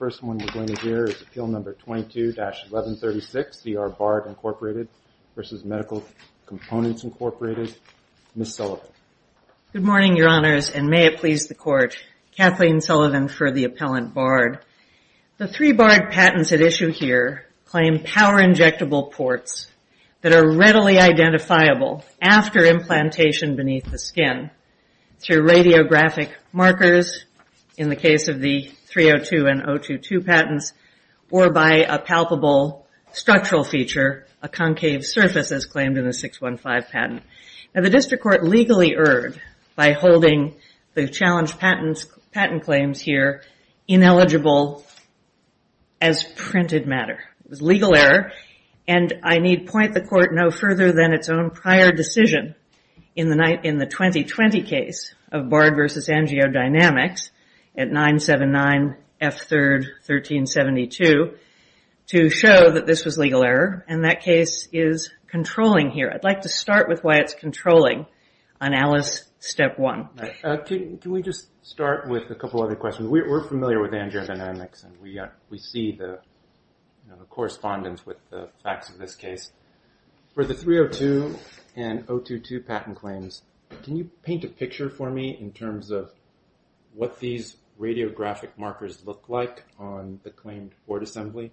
Ms. Sullivan. Good morning, Your Honors, and may it please the Court. Kathleen Sullivan for the Appellant Bard. The three Bard patents at issue here claim power-injectable ports that are readily identifiable after implantation beneath the skin through radiographic markers, in the case of the 302 and 022 patents, or by a palpable structural feature, a concave surface, as claimed in the 615 patent. The District Court legally erred by holding the challenged patent claims here ineligible as printed matter. It was legal error, and I need point the Court no further than its own prior decision in the 2020 case of Bard v. AngioDynamics at 979 F3, 1372, to show that this was legal error, and that case is controlling here. I'd like to start with why it's controlling on Alice, Step 1. Can we just start with a couple other questions? We're familiar with AngioDynamics, and we see the correspondence with the facts of this case. For the 302 and 022 patent claims, can you paint a picture for me in terms of what these radiographic markers look like on the claimed port assembly?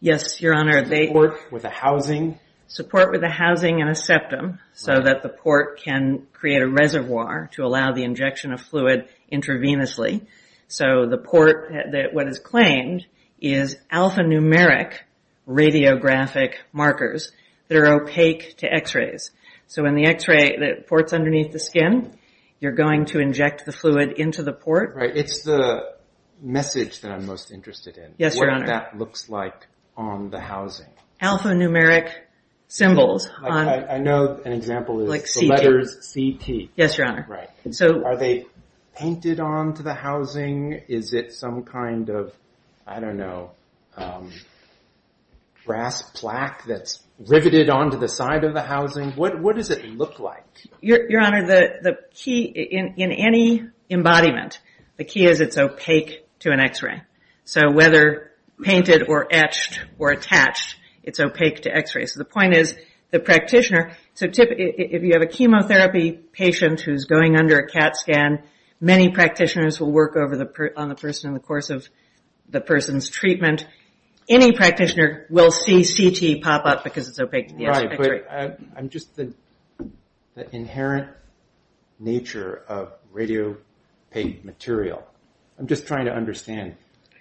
Yes, Your Honor. The port with a housing? Support with a housing and a septum, so that the port can create a reservoir to allow the injection of fluid intravenously. So the port, what is claimed, is alphanumeric radiographic markers that are opaque to x-rays. So in the x-ray that ports underneath the skin, you're going to inject the fluid into the port. Right. It's the message that I'm most interested in. Yes, Your Honor. What that looks like on the housing. Alphanumeric symbols. I know an example is the letters C-T. Yes, Your Honor. Right. Are they painted onto the housing? Is it some kind of, I don't know, brass plaque that's riveted onto the side of the housing? What does it look like? Your Honor, the key in any embodiment, the key is it's opaque to an x-ray. So whether painted or etched or attached, it's opaque to x-rays. So the point is, the practitioner... So if you have a chemotherapy patient who's going under a CAT scan, many practitioners will work on the person in the course of the person's treatment. Any practitioner will see C-T pop up because it's opaque to the x-ray. Right. But I'm just... The inherent nature of radiopaint material, I'm just trying to understand.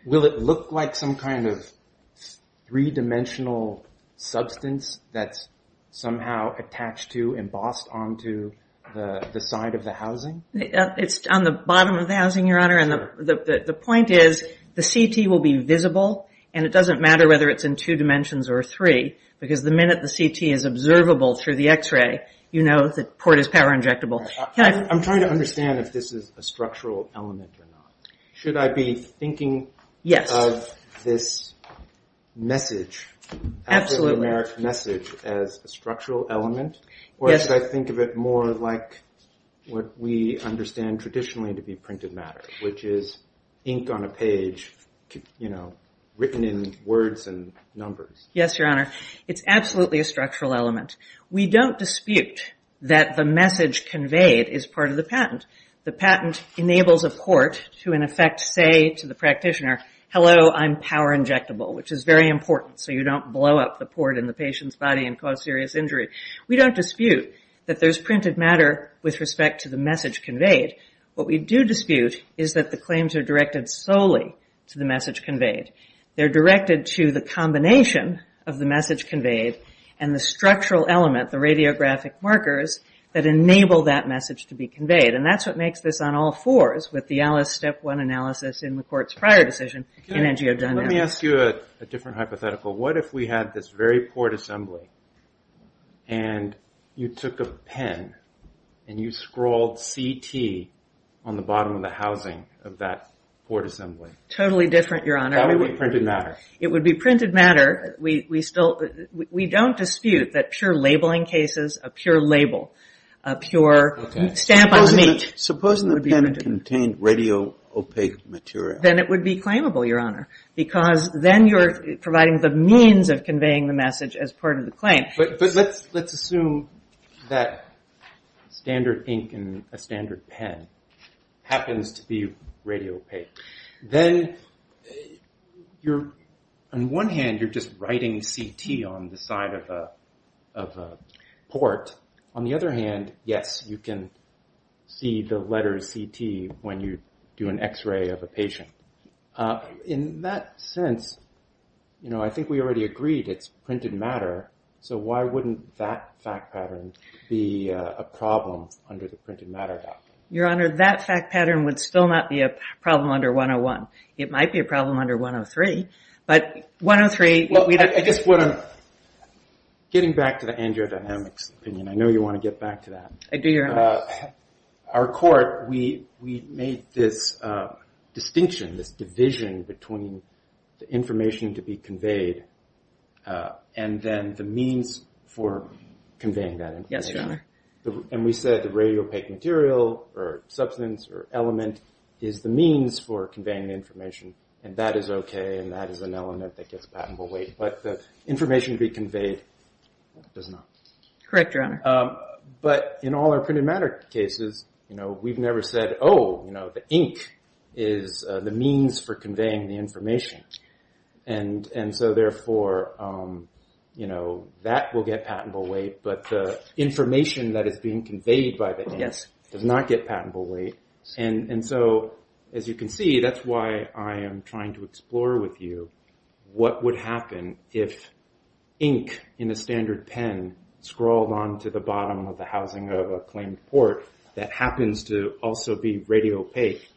Will it look like some kind of three-dimensional substance that's somehow attached to, embossed onto the side of the housing? It's on the bottom of the housing, Your Honor, and the point is the C-T will be visible and it doesn't matter whether it's in two dimensions or three because the minute the C-T is observable through the x-ray, you know the port is power injectable. I'm trying to understand if this is a structural element or not. Should I be thinking of this message, African-American message, as a structural element or should I think of it more like what we understand traditionally to be printed matter, which is ink on a page written in words and numbers? Yes, Your Honor. It's absolutely a structural element. We don't dispute that the message conveyed is part of the patent. The patent enables a port to, in effect, say to the practitioner, hello, I'm power injectable, which is very important so you don't blow up the port in the patient's body and cause serious injury. We don't dispute that there's printed matter with respect to the message conveyed. What we do dispute is that the claims are directed solely to the message conveyed. They're directed to the combination of the message conveyed and the structural element, the radiographic markers, that enable that message to be conveyed and that's what makes this on all fours with the Alice step one analysis in the court's prior decision in NGO dynamics. Let me ask you a different hypothetical. What if we had this very port assembly and you took a pen and you scrawled CT on the bottom of the housing of that port assembly? Totally different, Your Honor. That would be printed matter. It would be printed matter. We don't dispute that pure labeling cases, a pure label, a pure stamp on meat would be printed. Supposing the pen contained radio opaque material? Then it would be claimable, Your Honor, because then you're providing the means of conveying the message as part of the claim. Let's assume that standard ink and a standard pen happens to be radio opaque. Then on one hand you're just writing CT on the side of a port. On the other hand, yes, you can see the letter CT when you do an x-ray of a patient. In that sense, I think we already agreed it's printed matter, so why wouldn't that fact pattern be a problem under the printed matter doctrine? Your Honor, that fact pattern would still not be a problem under 101. It might be a problem under 103, but 103, what we'd have to do is... Getting back to the angio-dynamics opinion, I know you want to get back to that. Our court, we made this distinction, this division between the information to be conveyed and then the means for conveying that information. We said the radio opaque material or substance or element is the means for conveying the information, and that is okay, and that is an element that gets passed away. The information to be conveyed does not. Correct, Your Honor. In all our printed matter cases, we've never said, oh, the ink is the means for conveying the information, and so therefore that will get patentable weight, but the information that is being conveyed by the ink does not get patentable weight. As you can see, that's why I am trying to explore with you what would happen if ink in a standard pen scrawled onto the bottom of the housing of a claimed port that happens to also be radio opaque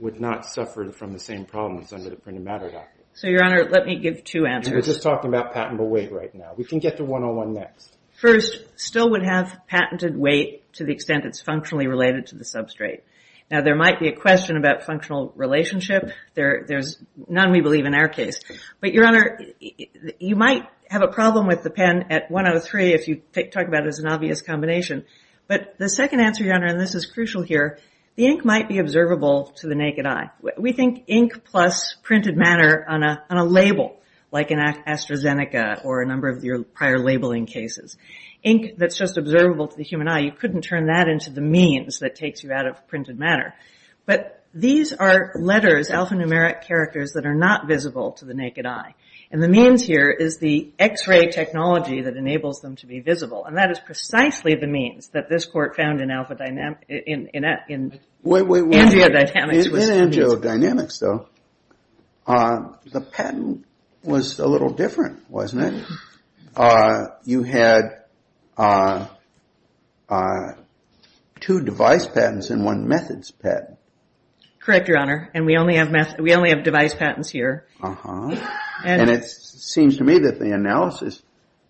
would not suffer from the same problems under the printed matter doctrine. Your Honor, let me give two answers. We're just talking about patentable weight right now. We can get to 101 next. First, still would have patented weight to the extent it's functionally related to the substrate. Now, there might be a question about functional relationship. There's none we believe in our case, but Your Honor, you might have a problem with the pen at 103 if you talk about it as an obvious combination, but the second answer, Your Honor, and this is crucial here, the ink might be observable to the naked eye. We think ink plus printed matter on a label like an AstraZeneca or a number of your prior labeling cases. Ink that's just observable to the human eye, you couldn't turn that into the means that takes you out of printed matter, but these are letters, alphanumeric characters that are not visible to the naked eye, and the means here is the x-ray technology that enables them to be visible, and that is precisely the means that this court found in angio-dynamics was found in. In angio-dynamics, though, the patent was a little different, wasn't it? You had two device patents and one methods patent. Correct, Your Honor, and we only have device patents here. And it seems to me that the analysis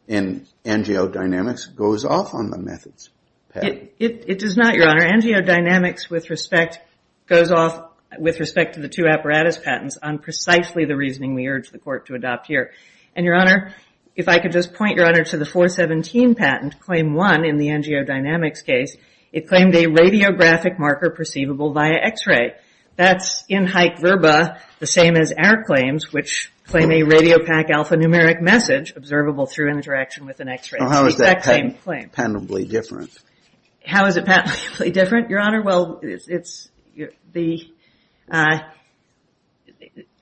in angio-dynamics goes off on the methods patent. It does not, Your Honor. Angio-dynamics with respect goes off with respect to the two apparatus patents on precisely the reasoning we urge the court to adopt here. And, Your Honor, if I could just point, Your Honor, to the 417 patent, Claim 1 in the angio-dynamics case, it claimed a radiographic marker perceivable via x-ray. That's in haec verba, the same as our claims, which claim a radiopac alphanumeric message observable through interaction with an x-ray. How is that patentably different? How is it patentably different, Your Honor? Well, it's the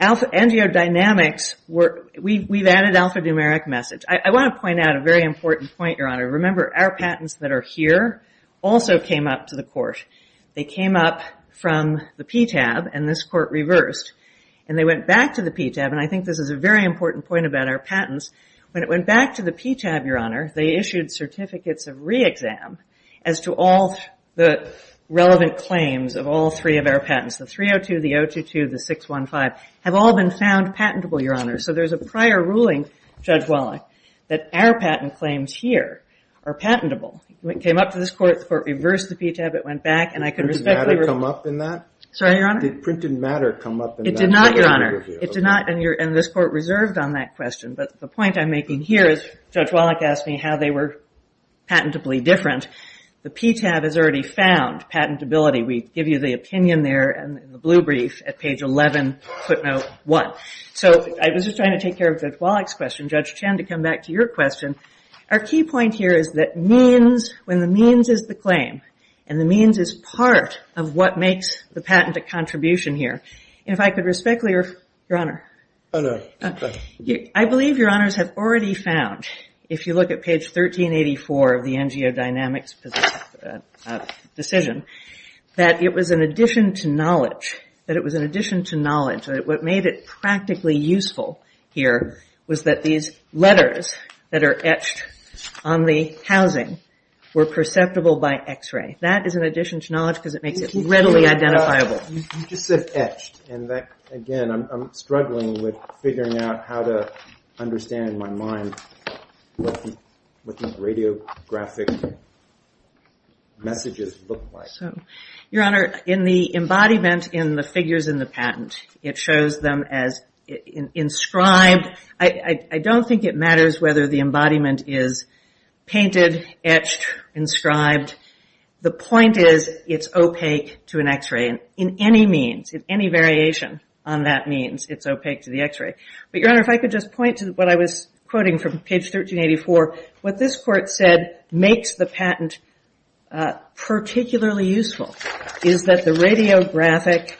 angio-dynamics, we've added alphanumeric message. I want to point out a very important point, Your Honor. Remember our patents that are here also came up to the court. They came up from the PTAB, and this court reversed. And they went back to the PTAB, and I think this is a very important point about our patents. When it went back to the PTAB, Your Honor, they issued certificates of re-exam as to all the relevant claims of all three of our patents, the 302, the 022, the 615, have all been found patentable, Your Honor. So there's a prior ruling, Judge Wallach, that our patent claims here are patentable. It came up to this court, the court reversed the PTAB, it went back, and I can respectfully review it. Did printed matter come up in that? Sorry, Your Honor? Did printed matter come up in that? It did not, Your Honor. It did not, and this court reserved on that question. But the point I'm making here is, Judge Wallach asked me how they were patentably different. The PTAB has already found patentability. We give you the opinion there in the blue brief at page 11, footnote 1. So I was just trying to take care of Judge Wallach's question, Judge Chen, to come back to your question. Our key point here is that means, when the means is the claim, and the means is part of what makes the patent a contribution here. If I could respectfully, Your Honor, I believe Your Honors have already found, if you look at page 1384 of the NGO Dynamics decision, that it was an addition to knowledge, that it was an addition to knowledge, that what made it practically useful here was that these letters that are etched on the housing were perceptible by x-ray. That is an addition to knowledge because it makes it readily identifiable. You just said etched, and again, I'm struggling with figuring out how to understand in my own time what these radiographic messages look like. Your Honor, in the embodiment in the figures in the patent, it shows them as inscribed. I don't think it matters whether the embodiment is painted, etched, inscribed. The point is it's opaque to an x-ray in any means, in any variation on that means it's opaque to the x-ray. But Your Honor, if I could just point to what I was quoting from page 1384. What this court said makes the patent particularly useful is that the radiographic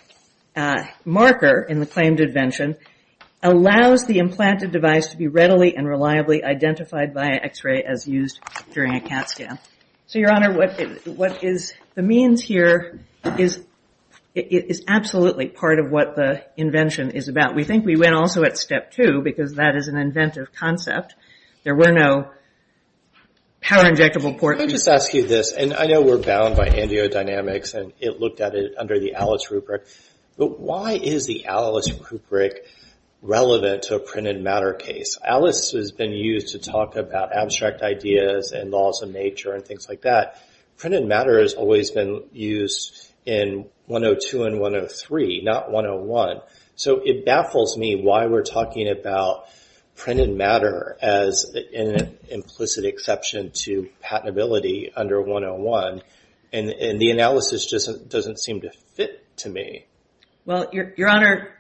marker in the claimed invention allows the implanted device to be readily and reliably identified by x-ray as used during a CAT scan. So Your Honor, what is the means here is absolutely part of what the invention is about. We think we went also at step two because that is an inventive concept. There were no power injectable ports. Let me just ask you this, and I know we're bound by angiodynamics and it looked at it under the Alice rubric, but why is the Alice rubric relevant to a printed matter case? Alice has been used to talk about abstract ideas and laws of nature and things like that. Printed matter has always been used in 102 and 103, not 101. So it baffles me why we're talking about printed matter as an implicit exception to patentability under 101, and the analysis just doesn't seem to fit to me. Well, Your Honor,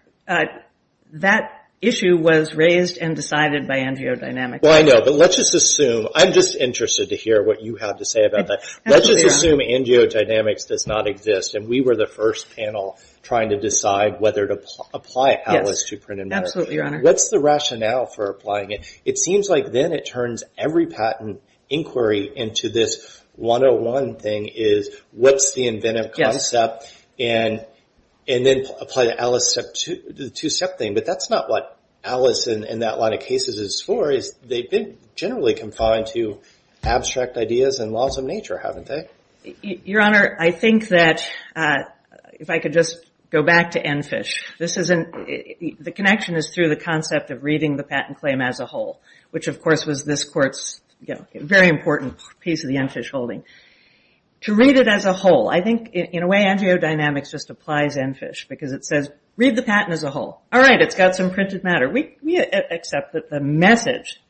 that issue was raised and decided by angiodynamics. Well, I know, but let's just assume, I'm just interested to hear what you have to say about that. Let's just assume angiodynamics does not exist, and we were the first panel trying to decide whether to apply Alice to printed matter. Yes, absolutely, Your Honor. What's the rationale for applying it? It seems like then it turns every patent inquiry into this 101 thing is what's the inventive concept and then apply the Alice step two, the two-step thing, but that's not what Alice in that line of cases is for. They've been generally confined to abstract ideas and laws of nature, haven't they? Your Honor, I think that if I could just go back to ENFISH, the connection is through the concept of reading the patent claim as a whole, which of course was this court's very important piece of the ENFISH holding. To read it as a whole, I think in a way angiodynamics just applies ENFISH because it says, read the patent as a whole. All right, it's got some printed matter. We accept that the message,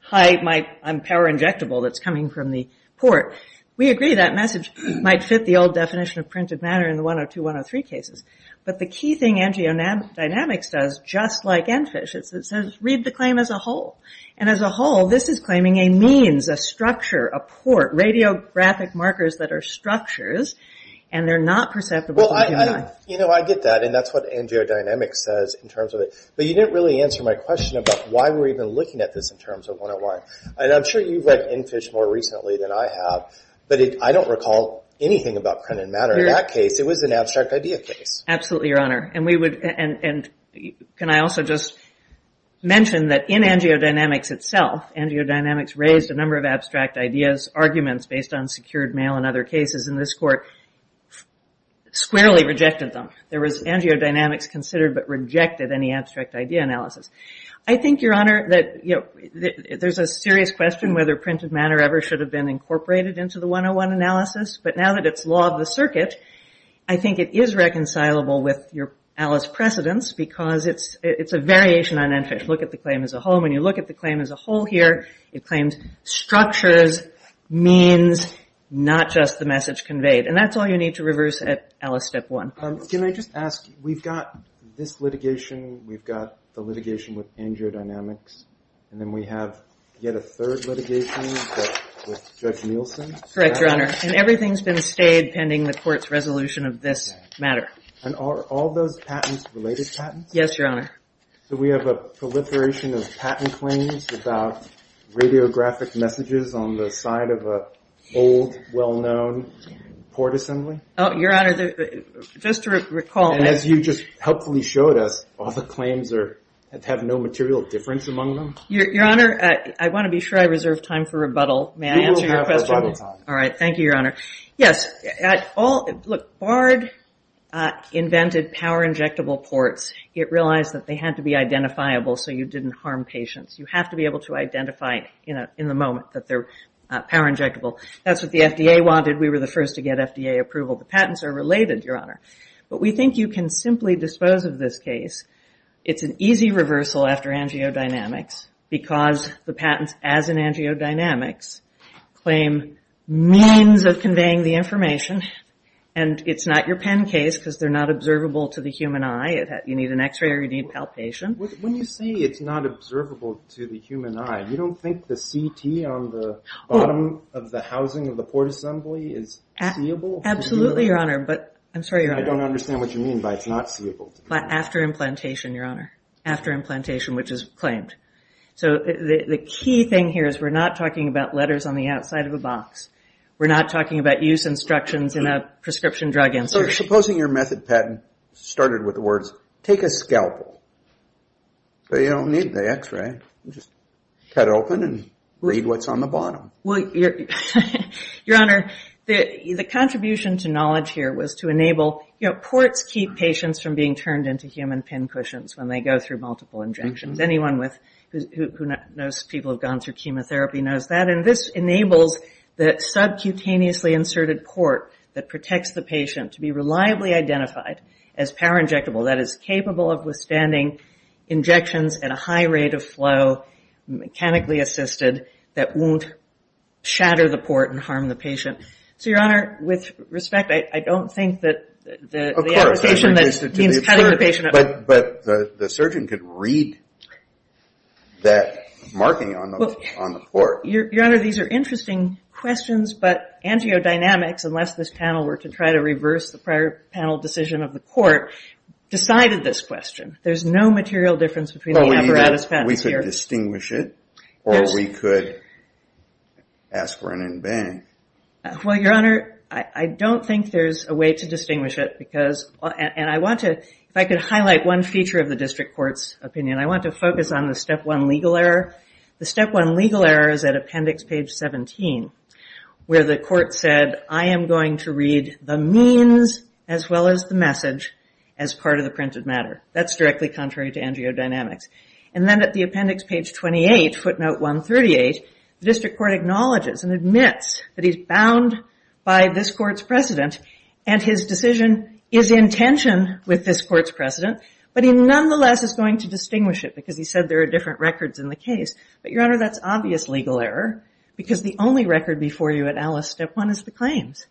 hi, I'm power injectable that's coming from the port. We agree that message might fit the old definition of printed matter in the 102, 103 cases, but the key thing angiodynamics does, just like ENFISH, it says read the claim as a whole. As a whole, this is claiming a means, a structure, a port, radiographic markers that are structures and they're not perceptible. I get that and that's what angiodynamics says in terms of it, but you didn't really answer my question about why we're even looking at this in terms of 101. I'm sure you've read ENFISH more recently than I have, but I don't recall anything about printed matter in that case. It was an abstract idea case. Absolutely, your honor. And we would, and can I also just mention that in angiodynamics itself, angiodynamics raised a number of abstract ideas, arguments based on secured mail and other cases in this court squarely rejected them. There was angiodynamics considered but rejected any abstract idea analysis. I think, your honor, that there's a serious question whether printed matter ever should have been incorporated into the 101 analysis, but now that it's law of the circuit, I think it is reconcilable with your Alice precedence because it's a variation on ENFISH. Look at the claim as a whole. When you look at the claim as a whole here, it claims structures, means, not just the message conveyed. And that's all you need to reverse at Alice step one. Can I just ask, we've got this litigation, we've got the litigation with angiodynamics, and then we have yet a third litigation with Judge Nielsen. Correct, your honor. And everything's been stayed pending the court's resolution of this matter. And are all those patents related patents? Yes, your honor. So we have a proliferation of patent claims about radiographic messages on the side of an old, well-known port assembly? Oh, your honor, just to recall. And as you just helpfully showed us, all the claims have no material difference among them? Your honor, I want to be sure I reserve time for rebuttal. May I answer your question? You will have rebuttal time. All right. Thank you, your honor. Yes. Look, BARD invented power injectable ports. It realized that they had to be identifiable so you didn't harm patients. You have to be able to identify in the moment that they're power injectable. That's what the FDA wanted. We were the first to get FDA approval. The patents are related, your honor. But we think you can simply dispose of this case. It's an easy reversal after angio-dynamics because the patents, as in angio-dynamics, claim means of conveying the information. And it's not your pen case because they're not observable to the human eye. You need an x-ray or you need palpation. When you say it's not observable to the human eye, you don't think the CT on the bottom of the housing of the port assembly is seeable? Absolutely, your honor. I'm sorry, your honor. I don't understand what you mean by it's not seeable to the human eye. After implantation, your honor. After implantation, which is claimed. So the key thing here is we're not talking about letters on the outside of a box. We're not talking about use instructions in a prescription drug institute. So supposing your method patent started with the words, take a scalpel, but you don't need the x-ray. You just cut open and read what's on the bottom. Well, your honor, the contribution to knowledge here was to enable, you know, ports keep patients from being turned into human pin cushions when they go through multiple injections. Anyone who knows people who have gone through chemotherapy knows that. And this enables that subcutaneously inserted port that protects the patient to be reliably identified as power injectable. That is capable of withstanding injections at a high rate of flow, mechanically assisted, that won't shatter the port and harm the patient. So your honor, with respect, I don't think that the application that means cutting the patient. But the surgeon could read that marking on the port. Your honor, these are interesting questions, but angiodynamics, unless this panel were to try to reverse the prior panel decision of the court, decided this question. There's no material difference between the apparatus patents here. We could distinguish it, or we could ask for an in bank. Well, your honor, I don't think there's a way to distinguish it because, and I want to, if I could highlight one feature of the district court's opinion, I want to focus on the step one legal error. The step one legal error is at appendix page 17, where the court said, I am going to read the means as well as the message as part of the printed matter. That's directly contrary to angiodynamics. And then at the appendix page 28, footnote 138, the district court acknowledges and admits that he's bound by this court's precedent. And his decision is in tension with this court's precedent. But he nonetheless is going to distinguish it, because he said there are different records in the case. But your honor, that's obvious legal error, because the only record before you at Alice step one is the claims.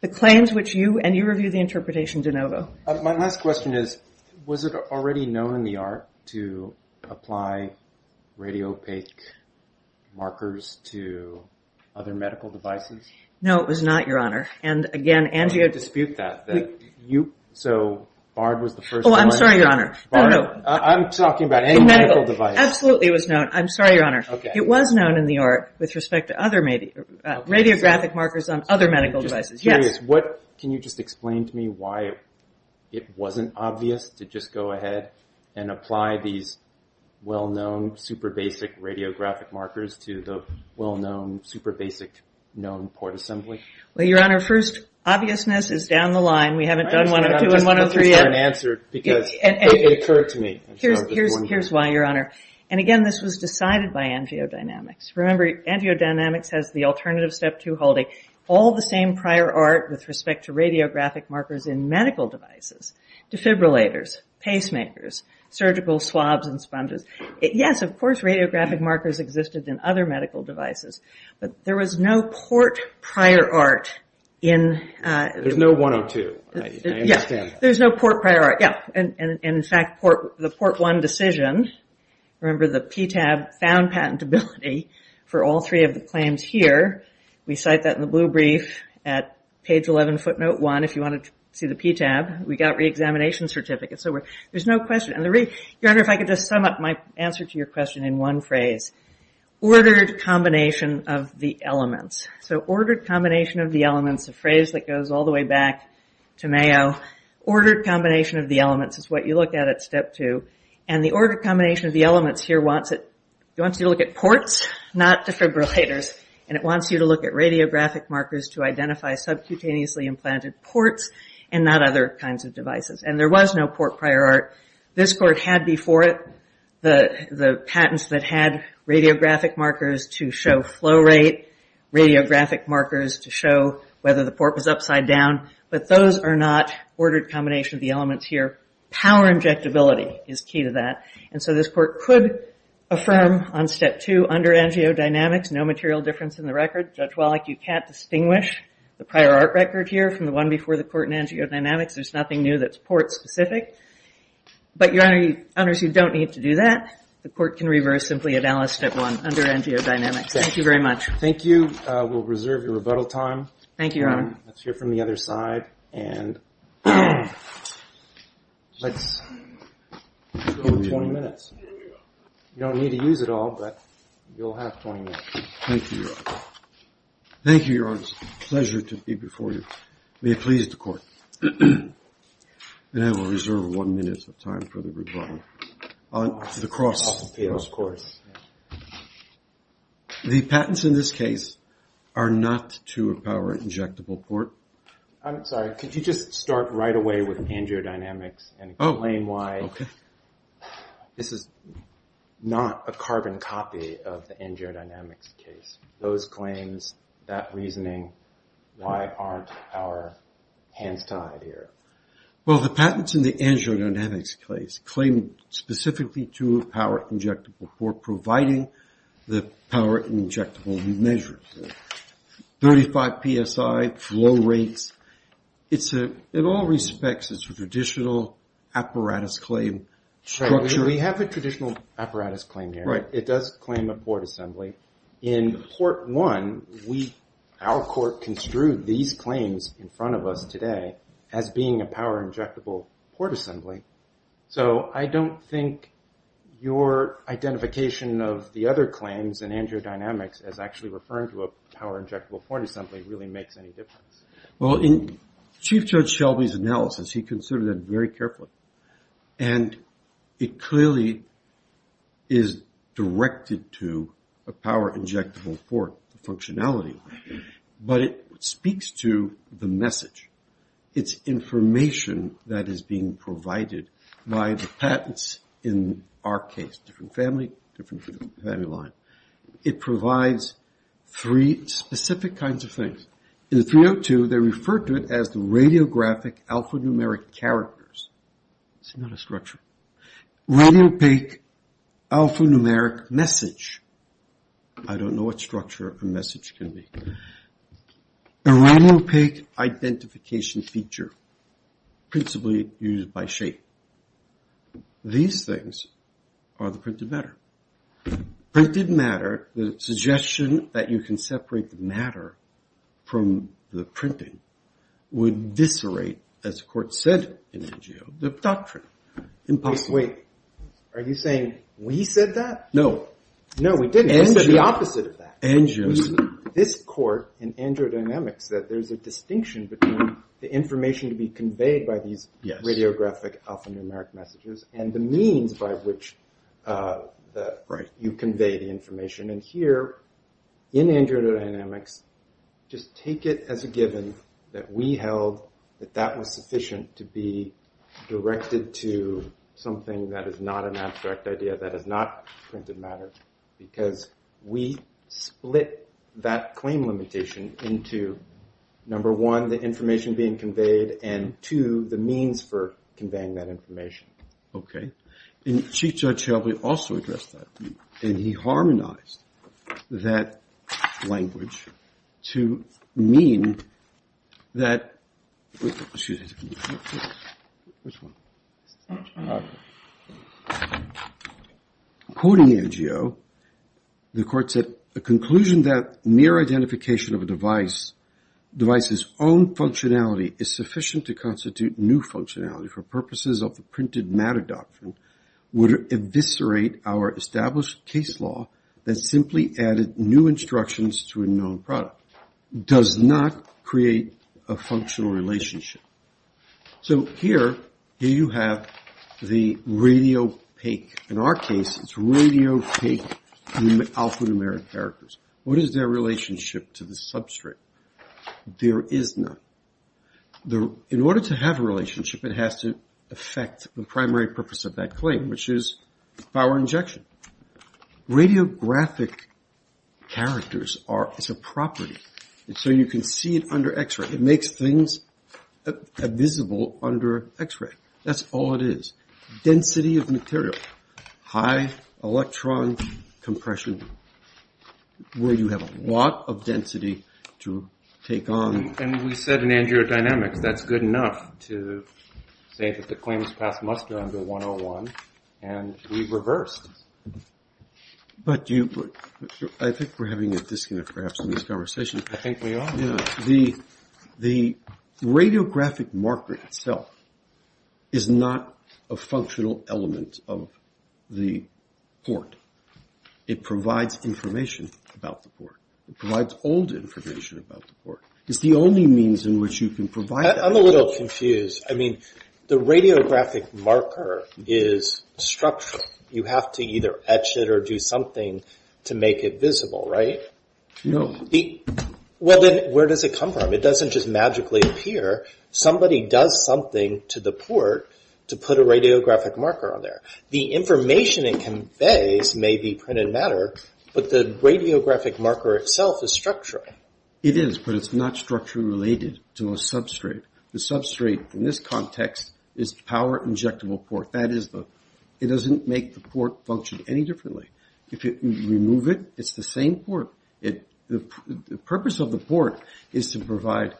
The claims which you, and you review the interpretation de novo. My last question is, was it already known in the art to apply radiopaque markers to other medical devices? No, it was not, your honor. And again, Angie, I dispute that, that you, so BARD was the first one. Oh, I'm sorry, your honor. No, no. I'm talking about any medical device. The medical, absolutely it was known. I'm sorry, your honor. Okay. It was known in the art with respect to other radiographic markers on other medical devices. Yes. I'm curious, what, can you just explain to me why it wasn't obvious to just go ahead and apply these well-known, super basic radiographic markers to the well-known, super basic known port assembly? Well, your honor, first, obviousness is down the line. We haven't done 102 and 103 yet. I understand, I'm just not sure it's been answered, because it occurred to me. Here's why, your honor. And again, this was decided by Angeo Dynamics. Remember, Angeo Dynamics has the alternative step two holding. All the same prior art with respect to radiographic markers in medical devices, defibrillators, pacemakers, surgical swabs and sponges. Yes, of course, radiographic markers existed in other medical devices, but there was no port prior art in- There's no 102. I understand that. Yeah. There's no port prior art. Yeah. And in fact, the port one decision, remember the PTAB found patentability for all three of the claims here. We cite that in the blue brief at page 11, footnote one, if you want to see the PTAB. We got re-examination certificates. So there's no question. And the re- Your honor, if I could just sum up my answer to your question in one phrase. Ordered combination of the elements. So ordered combination of the elements, a phrase that goes all the way back to Mayo. Ordered combination of the elements is what you look at at step two. And the ordered combination of the elements here wants you to look at ports, not defibrillators. And it wants you to look at radiographic markers to identify subcutaneously implanted ports and not other kinds of devices. And there was no port prior art. This court had before it the patents that had radiographic markers to show flow rate, radiographic markers to show whether the port was upside down. But those are not ordered combination of the elements here. Power injectability is key to that. And so this court could affirm on step two under Angio Dynamics, no material difference in the record. Judge Wallach, you can't distinguish the prior art record here from the one before the court in Angio Dynamics. There's nothing new that's port specific. But your honor, you don't need to do that. The court can reverse simply at Alice step one under Angio Dynamics. Thank you very much. Thank you. We'll reserve your rebuttal time. Thank you, your honor. Let's hear from the other side. And let's go to 20 minutes. You don't need to use it all, but you'll have 20 minutes. Thank you, your honor. Thank you, your honor. Pleasure to be before you. May it please the court. And I will reserve one minute of time for the rebuttal. Yes, of course. The patents in this case are not to a power injectable port. I'm sorry. Could you just start right away with angio-dynamics and explain why this is not a carbon copy of the angio-dynamics case? Those claims, that reasoning, why aren't our hands tied here? Well, the patents in the angio-dynamics case claim specifically to a power injectable port, in all respects, it's a traditional apparatus claim structure. We have a traditional apparatus claim here. It does claim a port assembly. In Port 1, our court construed these claims in front of us today as being a power injectable port assembly. So I don't think your identification of the other claims in angio-dynamics as actually referring to a power injectable port assembly really makes any difference. Well, in Chief Judge Shelby's analysis, he considered that very carefully. And it clearly is directed to a power injectable port functionality. But it speaks to the message. It's information that is being provided by the patents in our case, different family, different family line. It provides three specific kinds of things. In 302, they refer to it as the radiographic alphanumeric characters. It's not a structure. Radiopaque alphanumeric message. I don't know what structure a message can be. A radiopaque identification feature, principally used by shape. These things are the printed matter. Printed matter, the suggestion that you can separate the matter from the printing would viscerate, as the court said in angio, the doctrine. Wait, are you saying we said that? No. No, we didn't. We said the opposite of that. Angios. There's this court in angio dynamics that there's a distinction between the information to be conveyed by these radiographic alphanumeric messages and the means by which you convey the information. And here, in angio dynamics, just take it as a given that we held that that was sufficient to be directed to something that is not an abstract idea, that is not printed matter. Because we split that claim limitation into number one, the information being conveyed, and two, the means for conveying that information. Okay. And Chief Judge Shelby also addressed that. And he harmonized that language to mean that, excuse me, which one? Quoting angio, the court said, a conclusion that near identification of a device, device's own functionality is sufficient to constitute new functionality for purposes of the printed matter doctrine would eviscerate our established case law that simply added new instructions to a known product. Does not create a functional relationship. So here, here you have the radiopaque. In our case, it's radiopaque alphanumeric characters. What is their relationship to the substrate? There is none. In order to have a relationship, it has to affect the primary purpose of that claim, which is power injection. Radiographic characters are, it's a property. So you can see it under x-ray. It makes things visible under x-ray. That's all it is. Density of material. High electron compression, where you have a lot of density to take on. And we said in angiodynamics, that's good enough to say that the claim is passed muster under 101, and we reversed. But I think we're having a disconnect perhaps in this conversation. I think we are. The radiographic marker itself is not a functional element of the port. It provides information about the port. It provides old information about the port. It's the only means in which you can provide that. I'm a little confused. I mean, the radiographic marker is structural. You have to either etch it or do something to make it visible, right? No. Well, then where does it come from? It doesn't just magically appear. Somebody does something to the port to put a radiographic marker on there. The information it conveys may be printed matter, but the radiographic marker itself is structural. It is, but it's not structurally related to a substrate. The substrate in this context is power injectable port. It doesn't make the port function any differently. If you remove it, it's the same port. The purpose of the port is to provide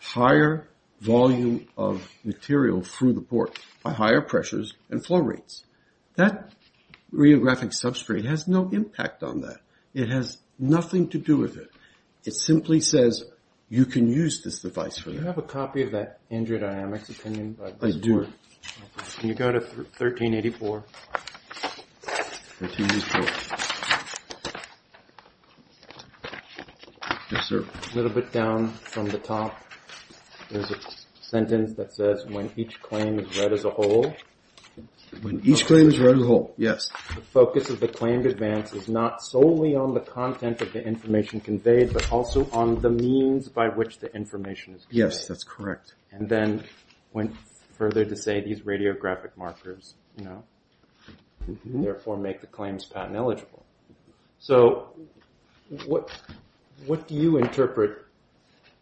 higher volume of material through the port by higher pressures and flow rates. That radiographic substrate has no impact on that. It has nothing to do with it. It simply says you can use this device for that. Do you have a copy of that angiodynamics opinion? I do. Can you go to 1384? Yes, sir. A little bit down from the top, there's a sentence that says, when each claim is read as a whole. When each claim is read as a whole, yes. The focus of the claimed advance is not solely on the content of the information conveyed, but also on the means by which the information is conveyed. Yes, that's correct. And then went further to say these radiographic markers, you know, therefore make the claims patent eligible. So what do you interpret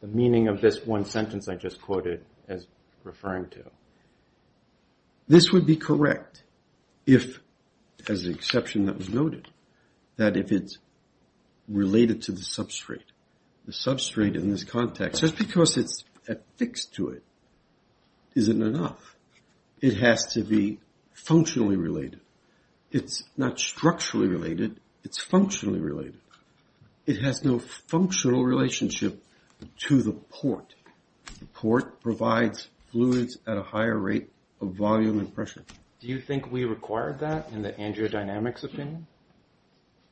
the meaning of this one sentence I just quoted as referring to? This would be correct if, as an exception that was noted, that if it's related to the substrate. The substrate in this context, just because it's affixed to it, isn't enough. It has to be functionally related. It's not structurally related. It's functionally related. It has no functional relationship to the port. The port provides fluids at a higher rate of volume and pressure. Do you think we required that in the angiodynamics opinion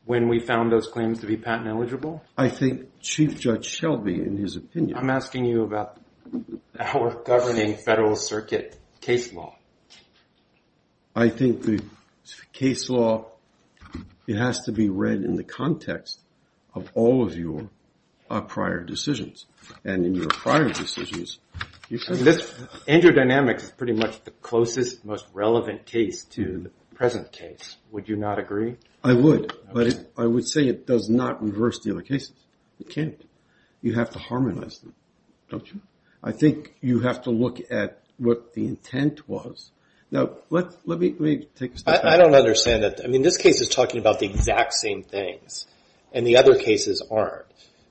when we found those claims to be patent eligible? I think Chief Judge Shelby, in his opinion. I'm asking you about our governing Federal Circuit case law. I think the case law, it has to be read in the context of all of your prior decisions. And in your prior decisions, you should. Angiodynamics is pretty much the closest, most relevant case to the present case. Would you not agree? I would. But I would say it does not reverse the other cases. It can't. You have to harmonize them, don't you? I think you have to look at what the intent was. Now, let me take a step back. I don't understand that. I mean, this case is talking about the exact same things, and the other cases aren't.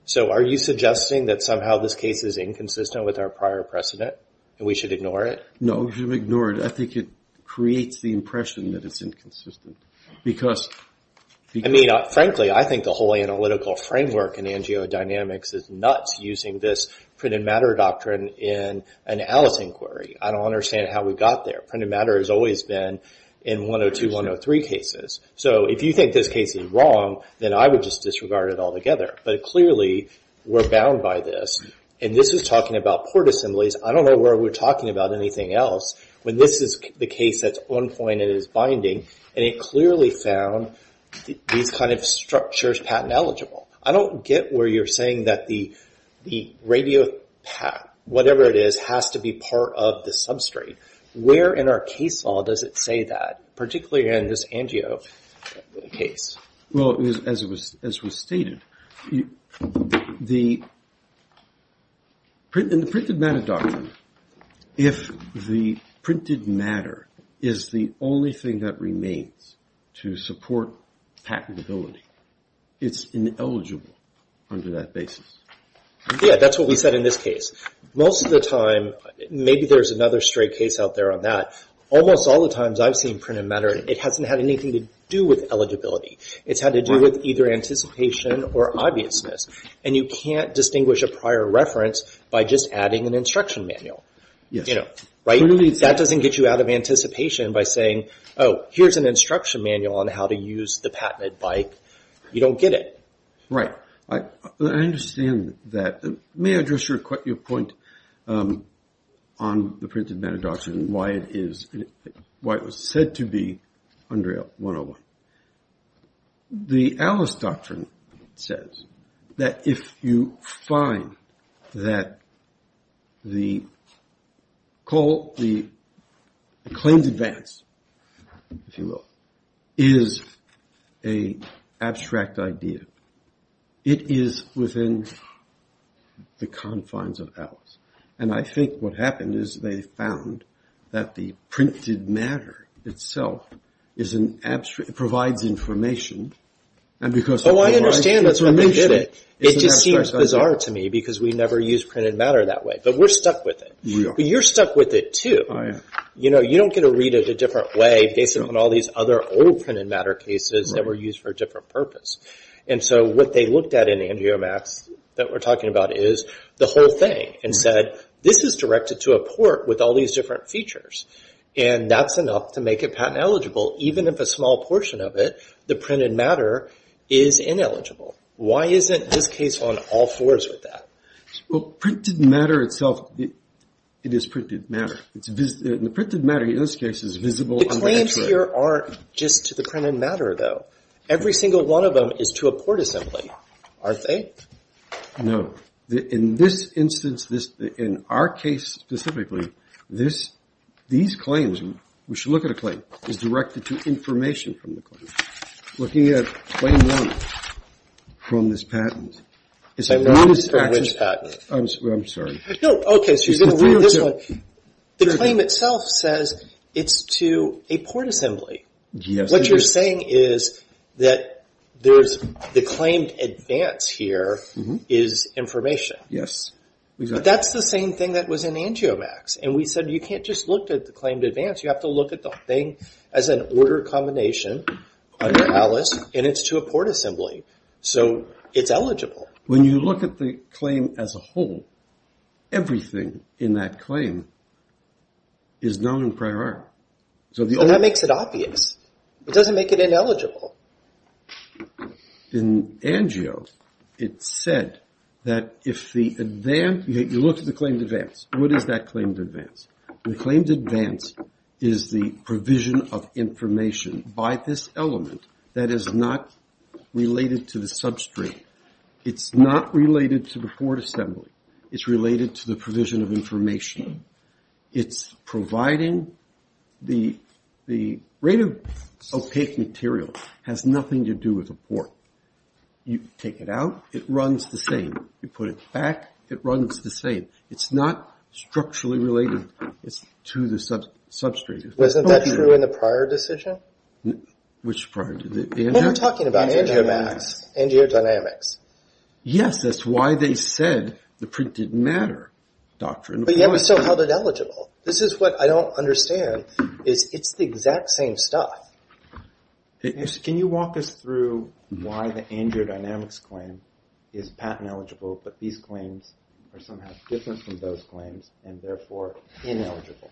So are you suggesting that somehow this case is inconsistent with our prior precedent and we should ignore it? No, you should ignore it. I think it creates the impression that it's inconsistent. I mean, frankly, I think the whole analytical framework in Angiodynamics is nuts, using this printed matter doctrine in an Alice inquiry. I don't understand how we got there. Printed matter has always been in 102, 103 cases. So if you think this case is wrong, then I would just disregard it altogether. But clearly, we're bound by this. And this is talking about port assemblies. I don't know where we're talking about anything else when this is the case that's on point and it is binding, and it clearly found these kind of structures patent eligible. I don't get where you're saying that the radiopath, whatever it is, has to be part of the substrate. Where in our case law does it say that, particularly in this Angio case? Well, as was stated, in the printed matter doctrine, if the printed matter is the only thing that remains to support patentability, it's ineligible under that basis. Yeah, that's what we said in this case. Most of the time, maybe there's another straight case out there on that. Almost all the times I've seen printed matter, it hasn't had anything to do with eligibility. It's had to do with either anticipation or obviousness. And you can't distinguish a prior reference by just adding an instruction manual. That doesn't get you out of anticipation by saying, oh, here's an instruction manual on how to use the patented bike. You don't get it. Right. I understand that. May I address your point on the printed matter doctrine and why it was said to be under 101? The Alice doctrine says that if you find that the claims advance, if you will, is an abstract idea, it is within the confines of Alice. And I think what happened is they found that the printed matter itself provides information. Oh, I understand. That's why they did it. It just seems bizarre to me because we never used printed matter that way. But we're stuck with it. We are. But you're stuck with it, too. I am. You don't get to read it a different way based on all these other old printed matter cases that were used for a different purpose. And so what they looked at in Andrea Max that we're talking about is the whole thing and said, this is directed to a port with all these different features, and that's enough to make it patent eligible even if a small portion of it, the printed matter, is ineligible. Why isn't this case on all fours with that? Well, printed matter itself, it is printed matter. The printed matter, in this case, is visible. The claims here aren't just to the printed matter, though. Every single one of them is to a port assembly, aren't they? No. In this instance, in our case specifically, these claims, we should look at a claim, is directed to information from the claim. Looking at claim one from this patent. I'm sorry. No, okay, so you're going to look at this one. The claim itself says it's to a port assembly. Yes. What you're saying is that the claimed advance here is information. Yes, exactly. But that's the same thing that was in Andrea Max. And we said you can't just look at the claimed advance. You have to look at the thing as an order combination under Alice, and it's to a port assembly. So it's eligible. When you look at the claim as a whole, everything in that claim is known in prior art. But that makes it obvious. It doesn't make it ineligible. In Angio, it said that if the advance, you look at the claimed advance. What is that claimed advance? The claimed advance is the provision of information by this element that is not related to the substrate. It's not related to the port assembly. It's related to the provision of information. It's providing the rate of opaque material has nothing to do with the port. You take it out, it runs the same. You put it back, it runs the same. It's not structurally related. It's to the substrate. Wasn't that true in the prior decision? Which prior? We're talking about Angio Max, Angio Dynamics. Yes, that's why they said the printed matter doctrine. But yet we still held it eligible. This is what I don't understand. It's the exact same stuff. Can you walk us through why the Angio Dynamics claim is patent eligible, but these claims are somehow different from those claims and therefore ineligible?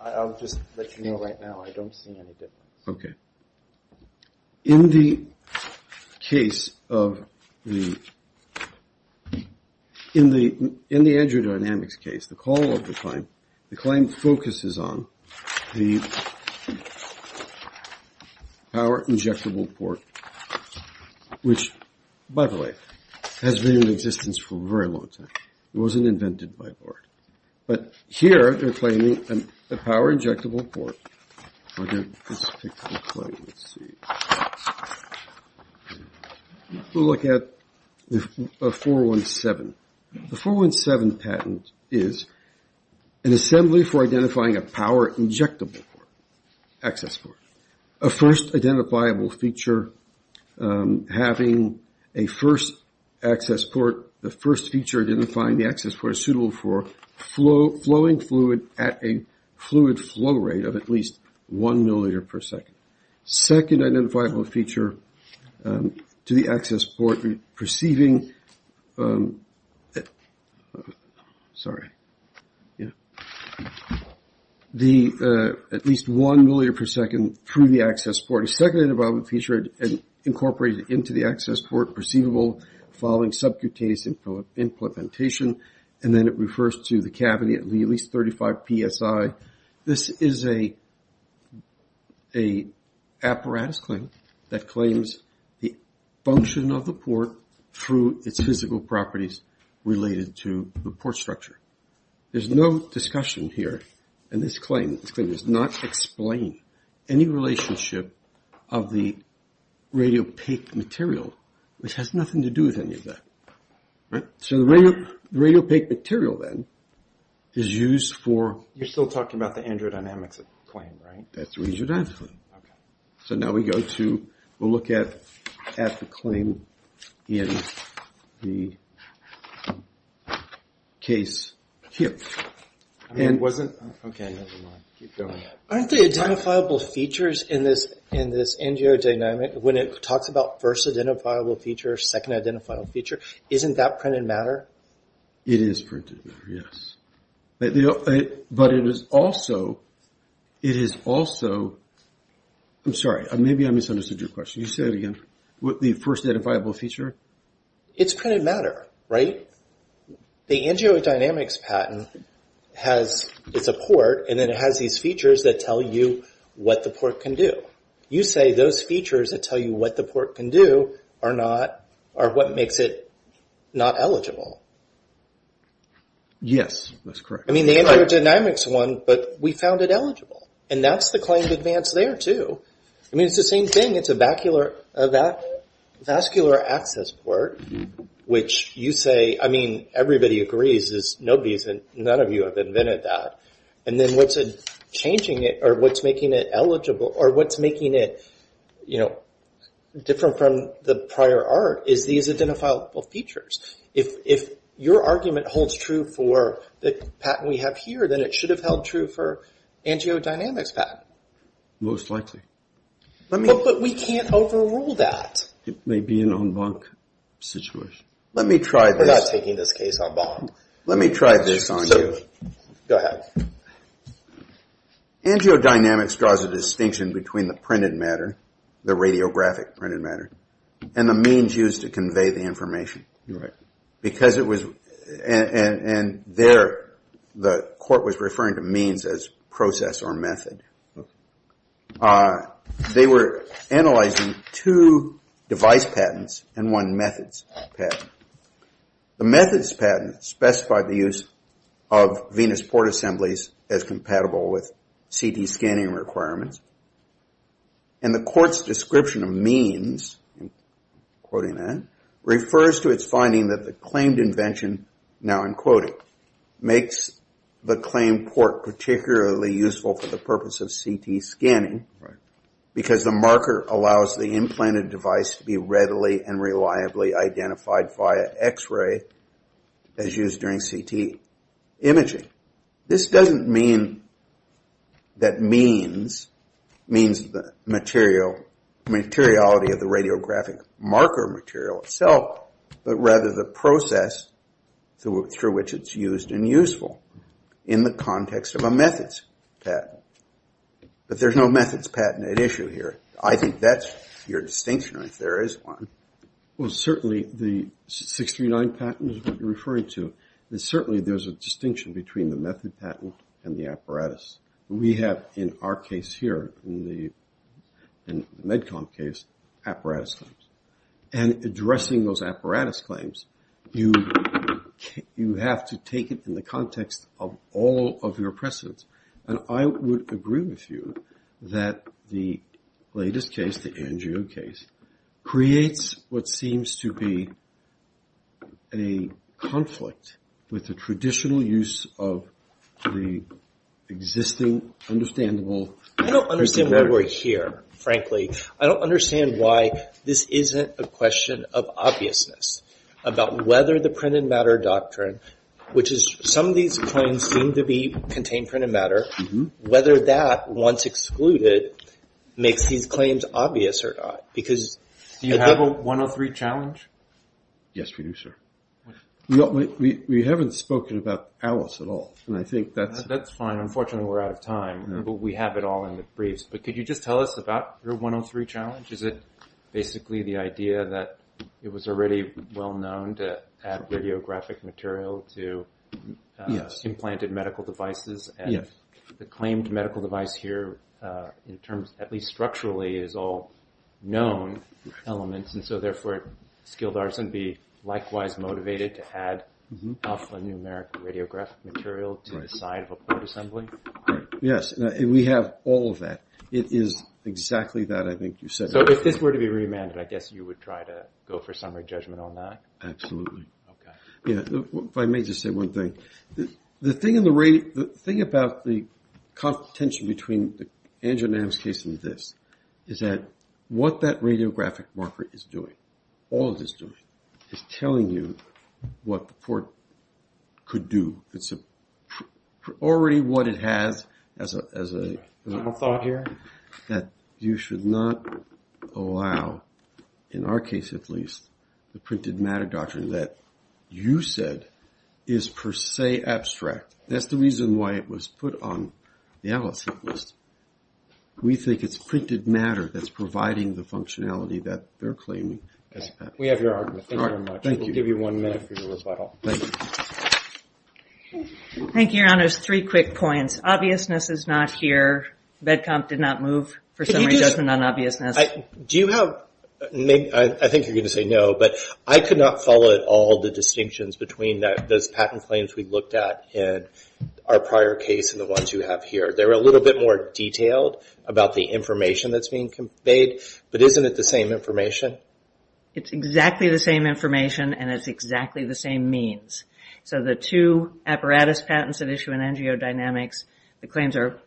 I'll just let you know right now. I don't see any difference. Okay. In the case of the – in the Angio Dynamics case, the call of the claim, the claim focuses on the power injectable port, which, by the way, has been in existence for a very long time. It wasn't invented by Bort. But here they're claiming a power injectable port. Let's see. We'll look at the 417. The 417 patent is an assembly for identifying a power injectable port, access port. A first identifiable feature having a first access port, the first feature identifying the access port is suitable for flowing fluid at a fluid flow rate of at least one milliliter per second. Second identifiable feature to the access port perceiving – sorry. At least one milliliter per second through the access port. A second identifiable feature incorporated into the access port, following subcutaneous implementation. And then it refers to the cavity at at least 35 PSI. This is an apparatus claim that claims the function of the port through its physical properties related to the port structure. There's no discussion here in this claim. This claim does not explain any relationship of the radiopaque material, which has nothing to do with any of that. So the radiopaque material then is used for – You're still talking about the angio-dynamics claim, right? That's the angio-dynamics claim. So now we go to – we'll look at the claim in the case here. And wasn't – okay, never mind. Keep going. Aren't the identifiable features in this angio-dynamic, when it talks about first identifiable feature, second identifiable feature, isn't that printed matter? It is printed matter, yes. But it is also – it is also – I'm sorry. Maybe I misunderstood your question. You say it again. The first identifiable feature? It's printed matter, right? The angio-dynamics patent has – it's a port, and then it has these features that tell you what the port can do. You say those features that tell you what the port can do are not – are what makes it not eligible. Yes, that's correct. I mean, the angio-dynamics one, but we found it eligible, and that's the claim to advance there too. I mean, it's the same thing. I think it's a vascular access port, which you say – I mean, everybody agrees. Nobody's – none of you have invented that. And then what's changing it or what's making it eligible or what's making it different from the prior art is these identifiable features. If your argument holds true for the patent we have here, then it should have held true for angio-dynamics patent. Most likely. But we can't overrule that. It may be an en banc situation. Let me try this. We're not taking this case en banc. Let me try this on you. Certainly. Go ahead. Angio-dynamics draws a distinction between the printed matter, the radiographic printed matter, and the means used to convey the information. Right. Because it was – and there the court was referring to means as process or method. They were analyzing two device patents and one methods patent. The methods patent specified the use of venous port assemblies as compatible with CT scanning requirements. And the court's description of means, quoting that, refers to its finding that the claimed invention, now in quoting, makes the claimed port particularly useful for the purpose of CT scanning because the marker allows the implanted device to be readily and reliably identified via x-ray as used during CT imaging. This doesn't mean that means means the material, materiality of the radiographic marker material itself, but rather the process through which it's used and useful in the context of a methods patent. But there's no methods patent at issue here. I think that's your distinction if there is one. Well, certainly the 639 patent is what you're referring to. And certainly there's a distinction between the method patent and the apparatus. We have in our case here, in the MedCom case, apparatus claims. And addressing those apparatus claims, you have to take it in the context of all of your precedents. And I would agree with you that the latest case, the Angiot case, creates what seems to be a conflict with the traditional use of the existing, understandable... I don't understand why we're here, frankly. I don't understand why this isn't a question of obviousness about whether the print and matter doctrine, which is some of these claims seem to contain print and matter, whether that, once excluded, makes these claims obvious or not. Do you have a 103 challenge? Yes, we do, sir. We haven't spoken about ALICE at all. That's fine. Unfortunately, we're out of time, but we have it all in the briefs. But could you just tell us about your 103 challenge? Is it basically the idea that it was already well-known to add radiographic material to implanted medical devices? Yes. And the claimed medical device here, at least structurally, is all known elements, and so, therefore, skilled artists would be likewise motivated to add alphanumeric radiographic material to the side of a port assembly? Yes. And we have all of that. It is exactly that, I think, you said. So if this were to be remanded, I guess you would try to go for summary judgment on that? Absolutely. Okay. If I may just say one thing. The thing about the contention between Andrew Nam's case and this is that what that radiographic marker is doing, all of this doing, is telling you what the port could do. It's already what it has as a thought here, that you should not allow, in our case at least, the printed matter doctrine that you said is per se abstract. That's the reason why it was put on the analysis list. We think it's printed matter that's providing the functionality that they're claiming. We have your argument. Thank you very much. We'll give you one minute for your rebuttal. Thank you. Thank you, Your Honors. Three quick points. Obviousness is not here. BEDCOMP did not move for summary judgment on obviousness. I think you're going to say no, but I could not follow at all the distinctions between those patent claims we looked at in our prior case and the ones you have here. They're a little bit more detailed about the information that's being conveyed, but isn't it the same information? It's exactly the same information and it's exactly the same means. So the two apparatus patents at issue in NGO Dynamics, the claims are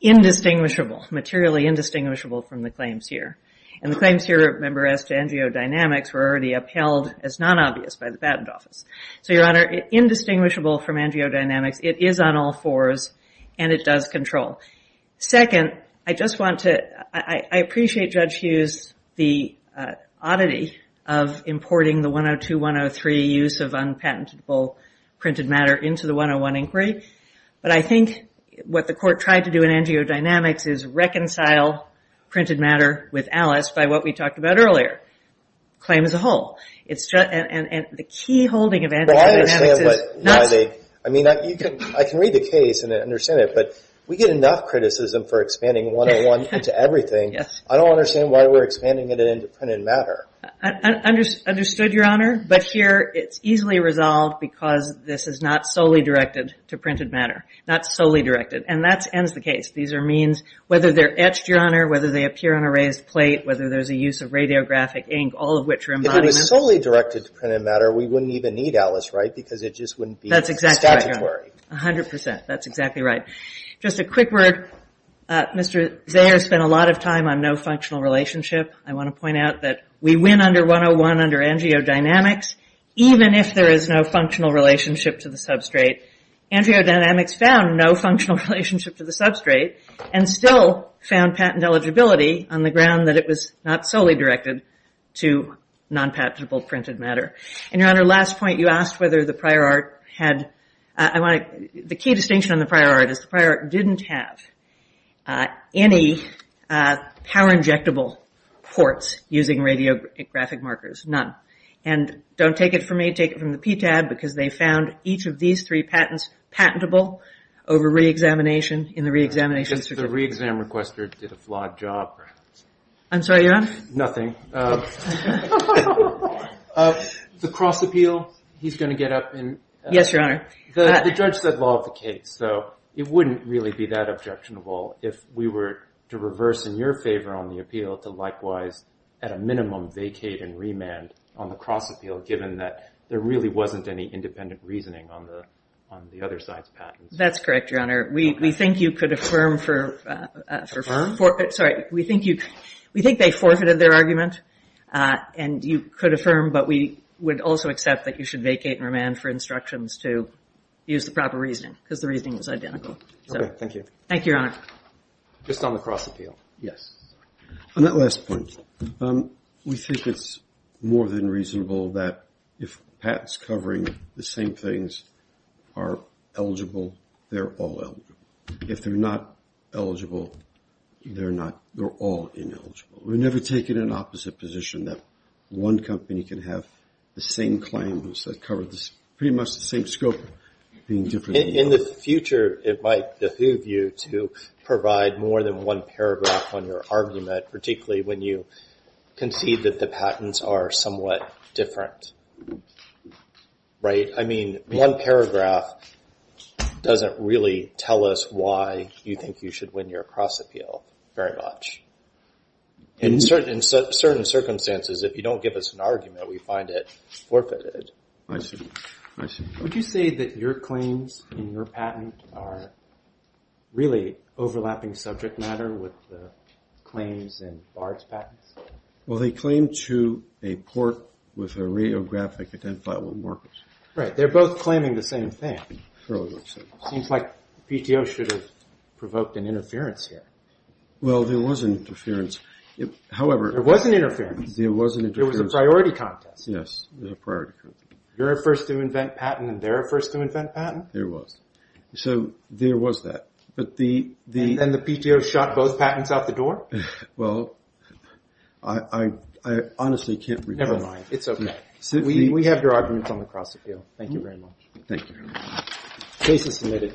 indistinguishable, materially indistinguishable from the claims here. And the claims here, remember, as to NGO Dynamics, were already upheld as non-obvious by the Patent Office. So, Your Honor, indistinguishable from NGO Dynamics. It is on all fours and it does control. Second, I appreciate Judge Hughes' oddity of importing the 102-103 use of unpatentable printed matter into the 101 inquiry, but I think what the Court tried to do in NGO Dynamics is reconcile printed matter with Alice by what we talked about earlier, claims as a whole. And the key holding of NGO Dynamics is not... Well, I understand why they... I mean, I can read the case and understand it, but we get enough criticism for expanding 101 into everything. I don't understand why we're expanding it into printed matter. Understood, Your Honor. But here, it's easily resolved because this is not solely directed to printed matter. Not solely directed. These are means, whether they're etched, Your Honor, whether they appear on a raised plate, whether there's a use of radiographic ink, all of which are embodied... If it was solely directed to printed matter, we wouldn't even need Alice, right? Because it just wouldn't be statutory. That's exactly right, Your Honor. A hundred percent. That's exactly right. Just a quick word. Mr. Zayer spent a lot of time on no functional relationship. I want to point out that we win under 101 under NGO Dynamics, even if there is no functional relationship to the substrate. NGO Dynamics found no functional relationship to the substrate and still found patent eligibility on the ground that it was not solely directed to non-patentable printed matter. And, Your Honor, last point. You asked whether the prior art had... The key distinction on the prior art is the prior art didn't have. Any power injectable ports using radiographic markers. None. And don't take it from me, take it from the PTAB, because they found each of these three patents patentable over re-examination in the re-examination... The re-exam requester did a flawed job. I'm sorry, Your Honor? Nothing. The cross appeal, he's going to get up and... Yes, Your Honor. The judge said law of the case, so it wouldn't really be that objectionable if we were to reverse in your favor on the appeal to likewise at a minimum vacate and remand on the cross appeal given that there really wasn't any independent reasoning on the other side's patents. That's correct, Your Honor. We think you could affirm for... And you could affirm, but we would also accept that you should vacate and remand for instructions to use the proper reasoning because the reasoning is identical. Okay, thank you. Just on the cross appeal. On that last point, we think it's more than reasonable that if patents covering the same things are eligible, they're all eligible. If they're not eligible, they're all ineligible. We've never taken an opposite position that one company can have the same claims that cover pretty much the same scope being different... In the future, it might behoove you to provide more than one paragraph on your argument, particularly when you concede that the patents are somewhat different. Right? I mean, one paragraph doesn't really tell us why you think you should win your cross appeal very much. In certain circumstances, if you don't give us an argument, we find it forfeited. Would you say that your claims in your patent are really overlapping subject matter with the claims in Bard's patents? Well, they claim to a port with a radiographic identifiable markers. Right, they're both claiming the same thing. Seems like PTO should have provoked an interference here. Well, there was an interference. There was an interference? It was a priority contest. You're at first to invent patent and they're at first to invent patent? There was. And then the PTO shot both patents out the door? Well, I honestly can't remember. Never mind, it's okay. We have your arguments on the cross appeal. Thank you very much. Case is submitted.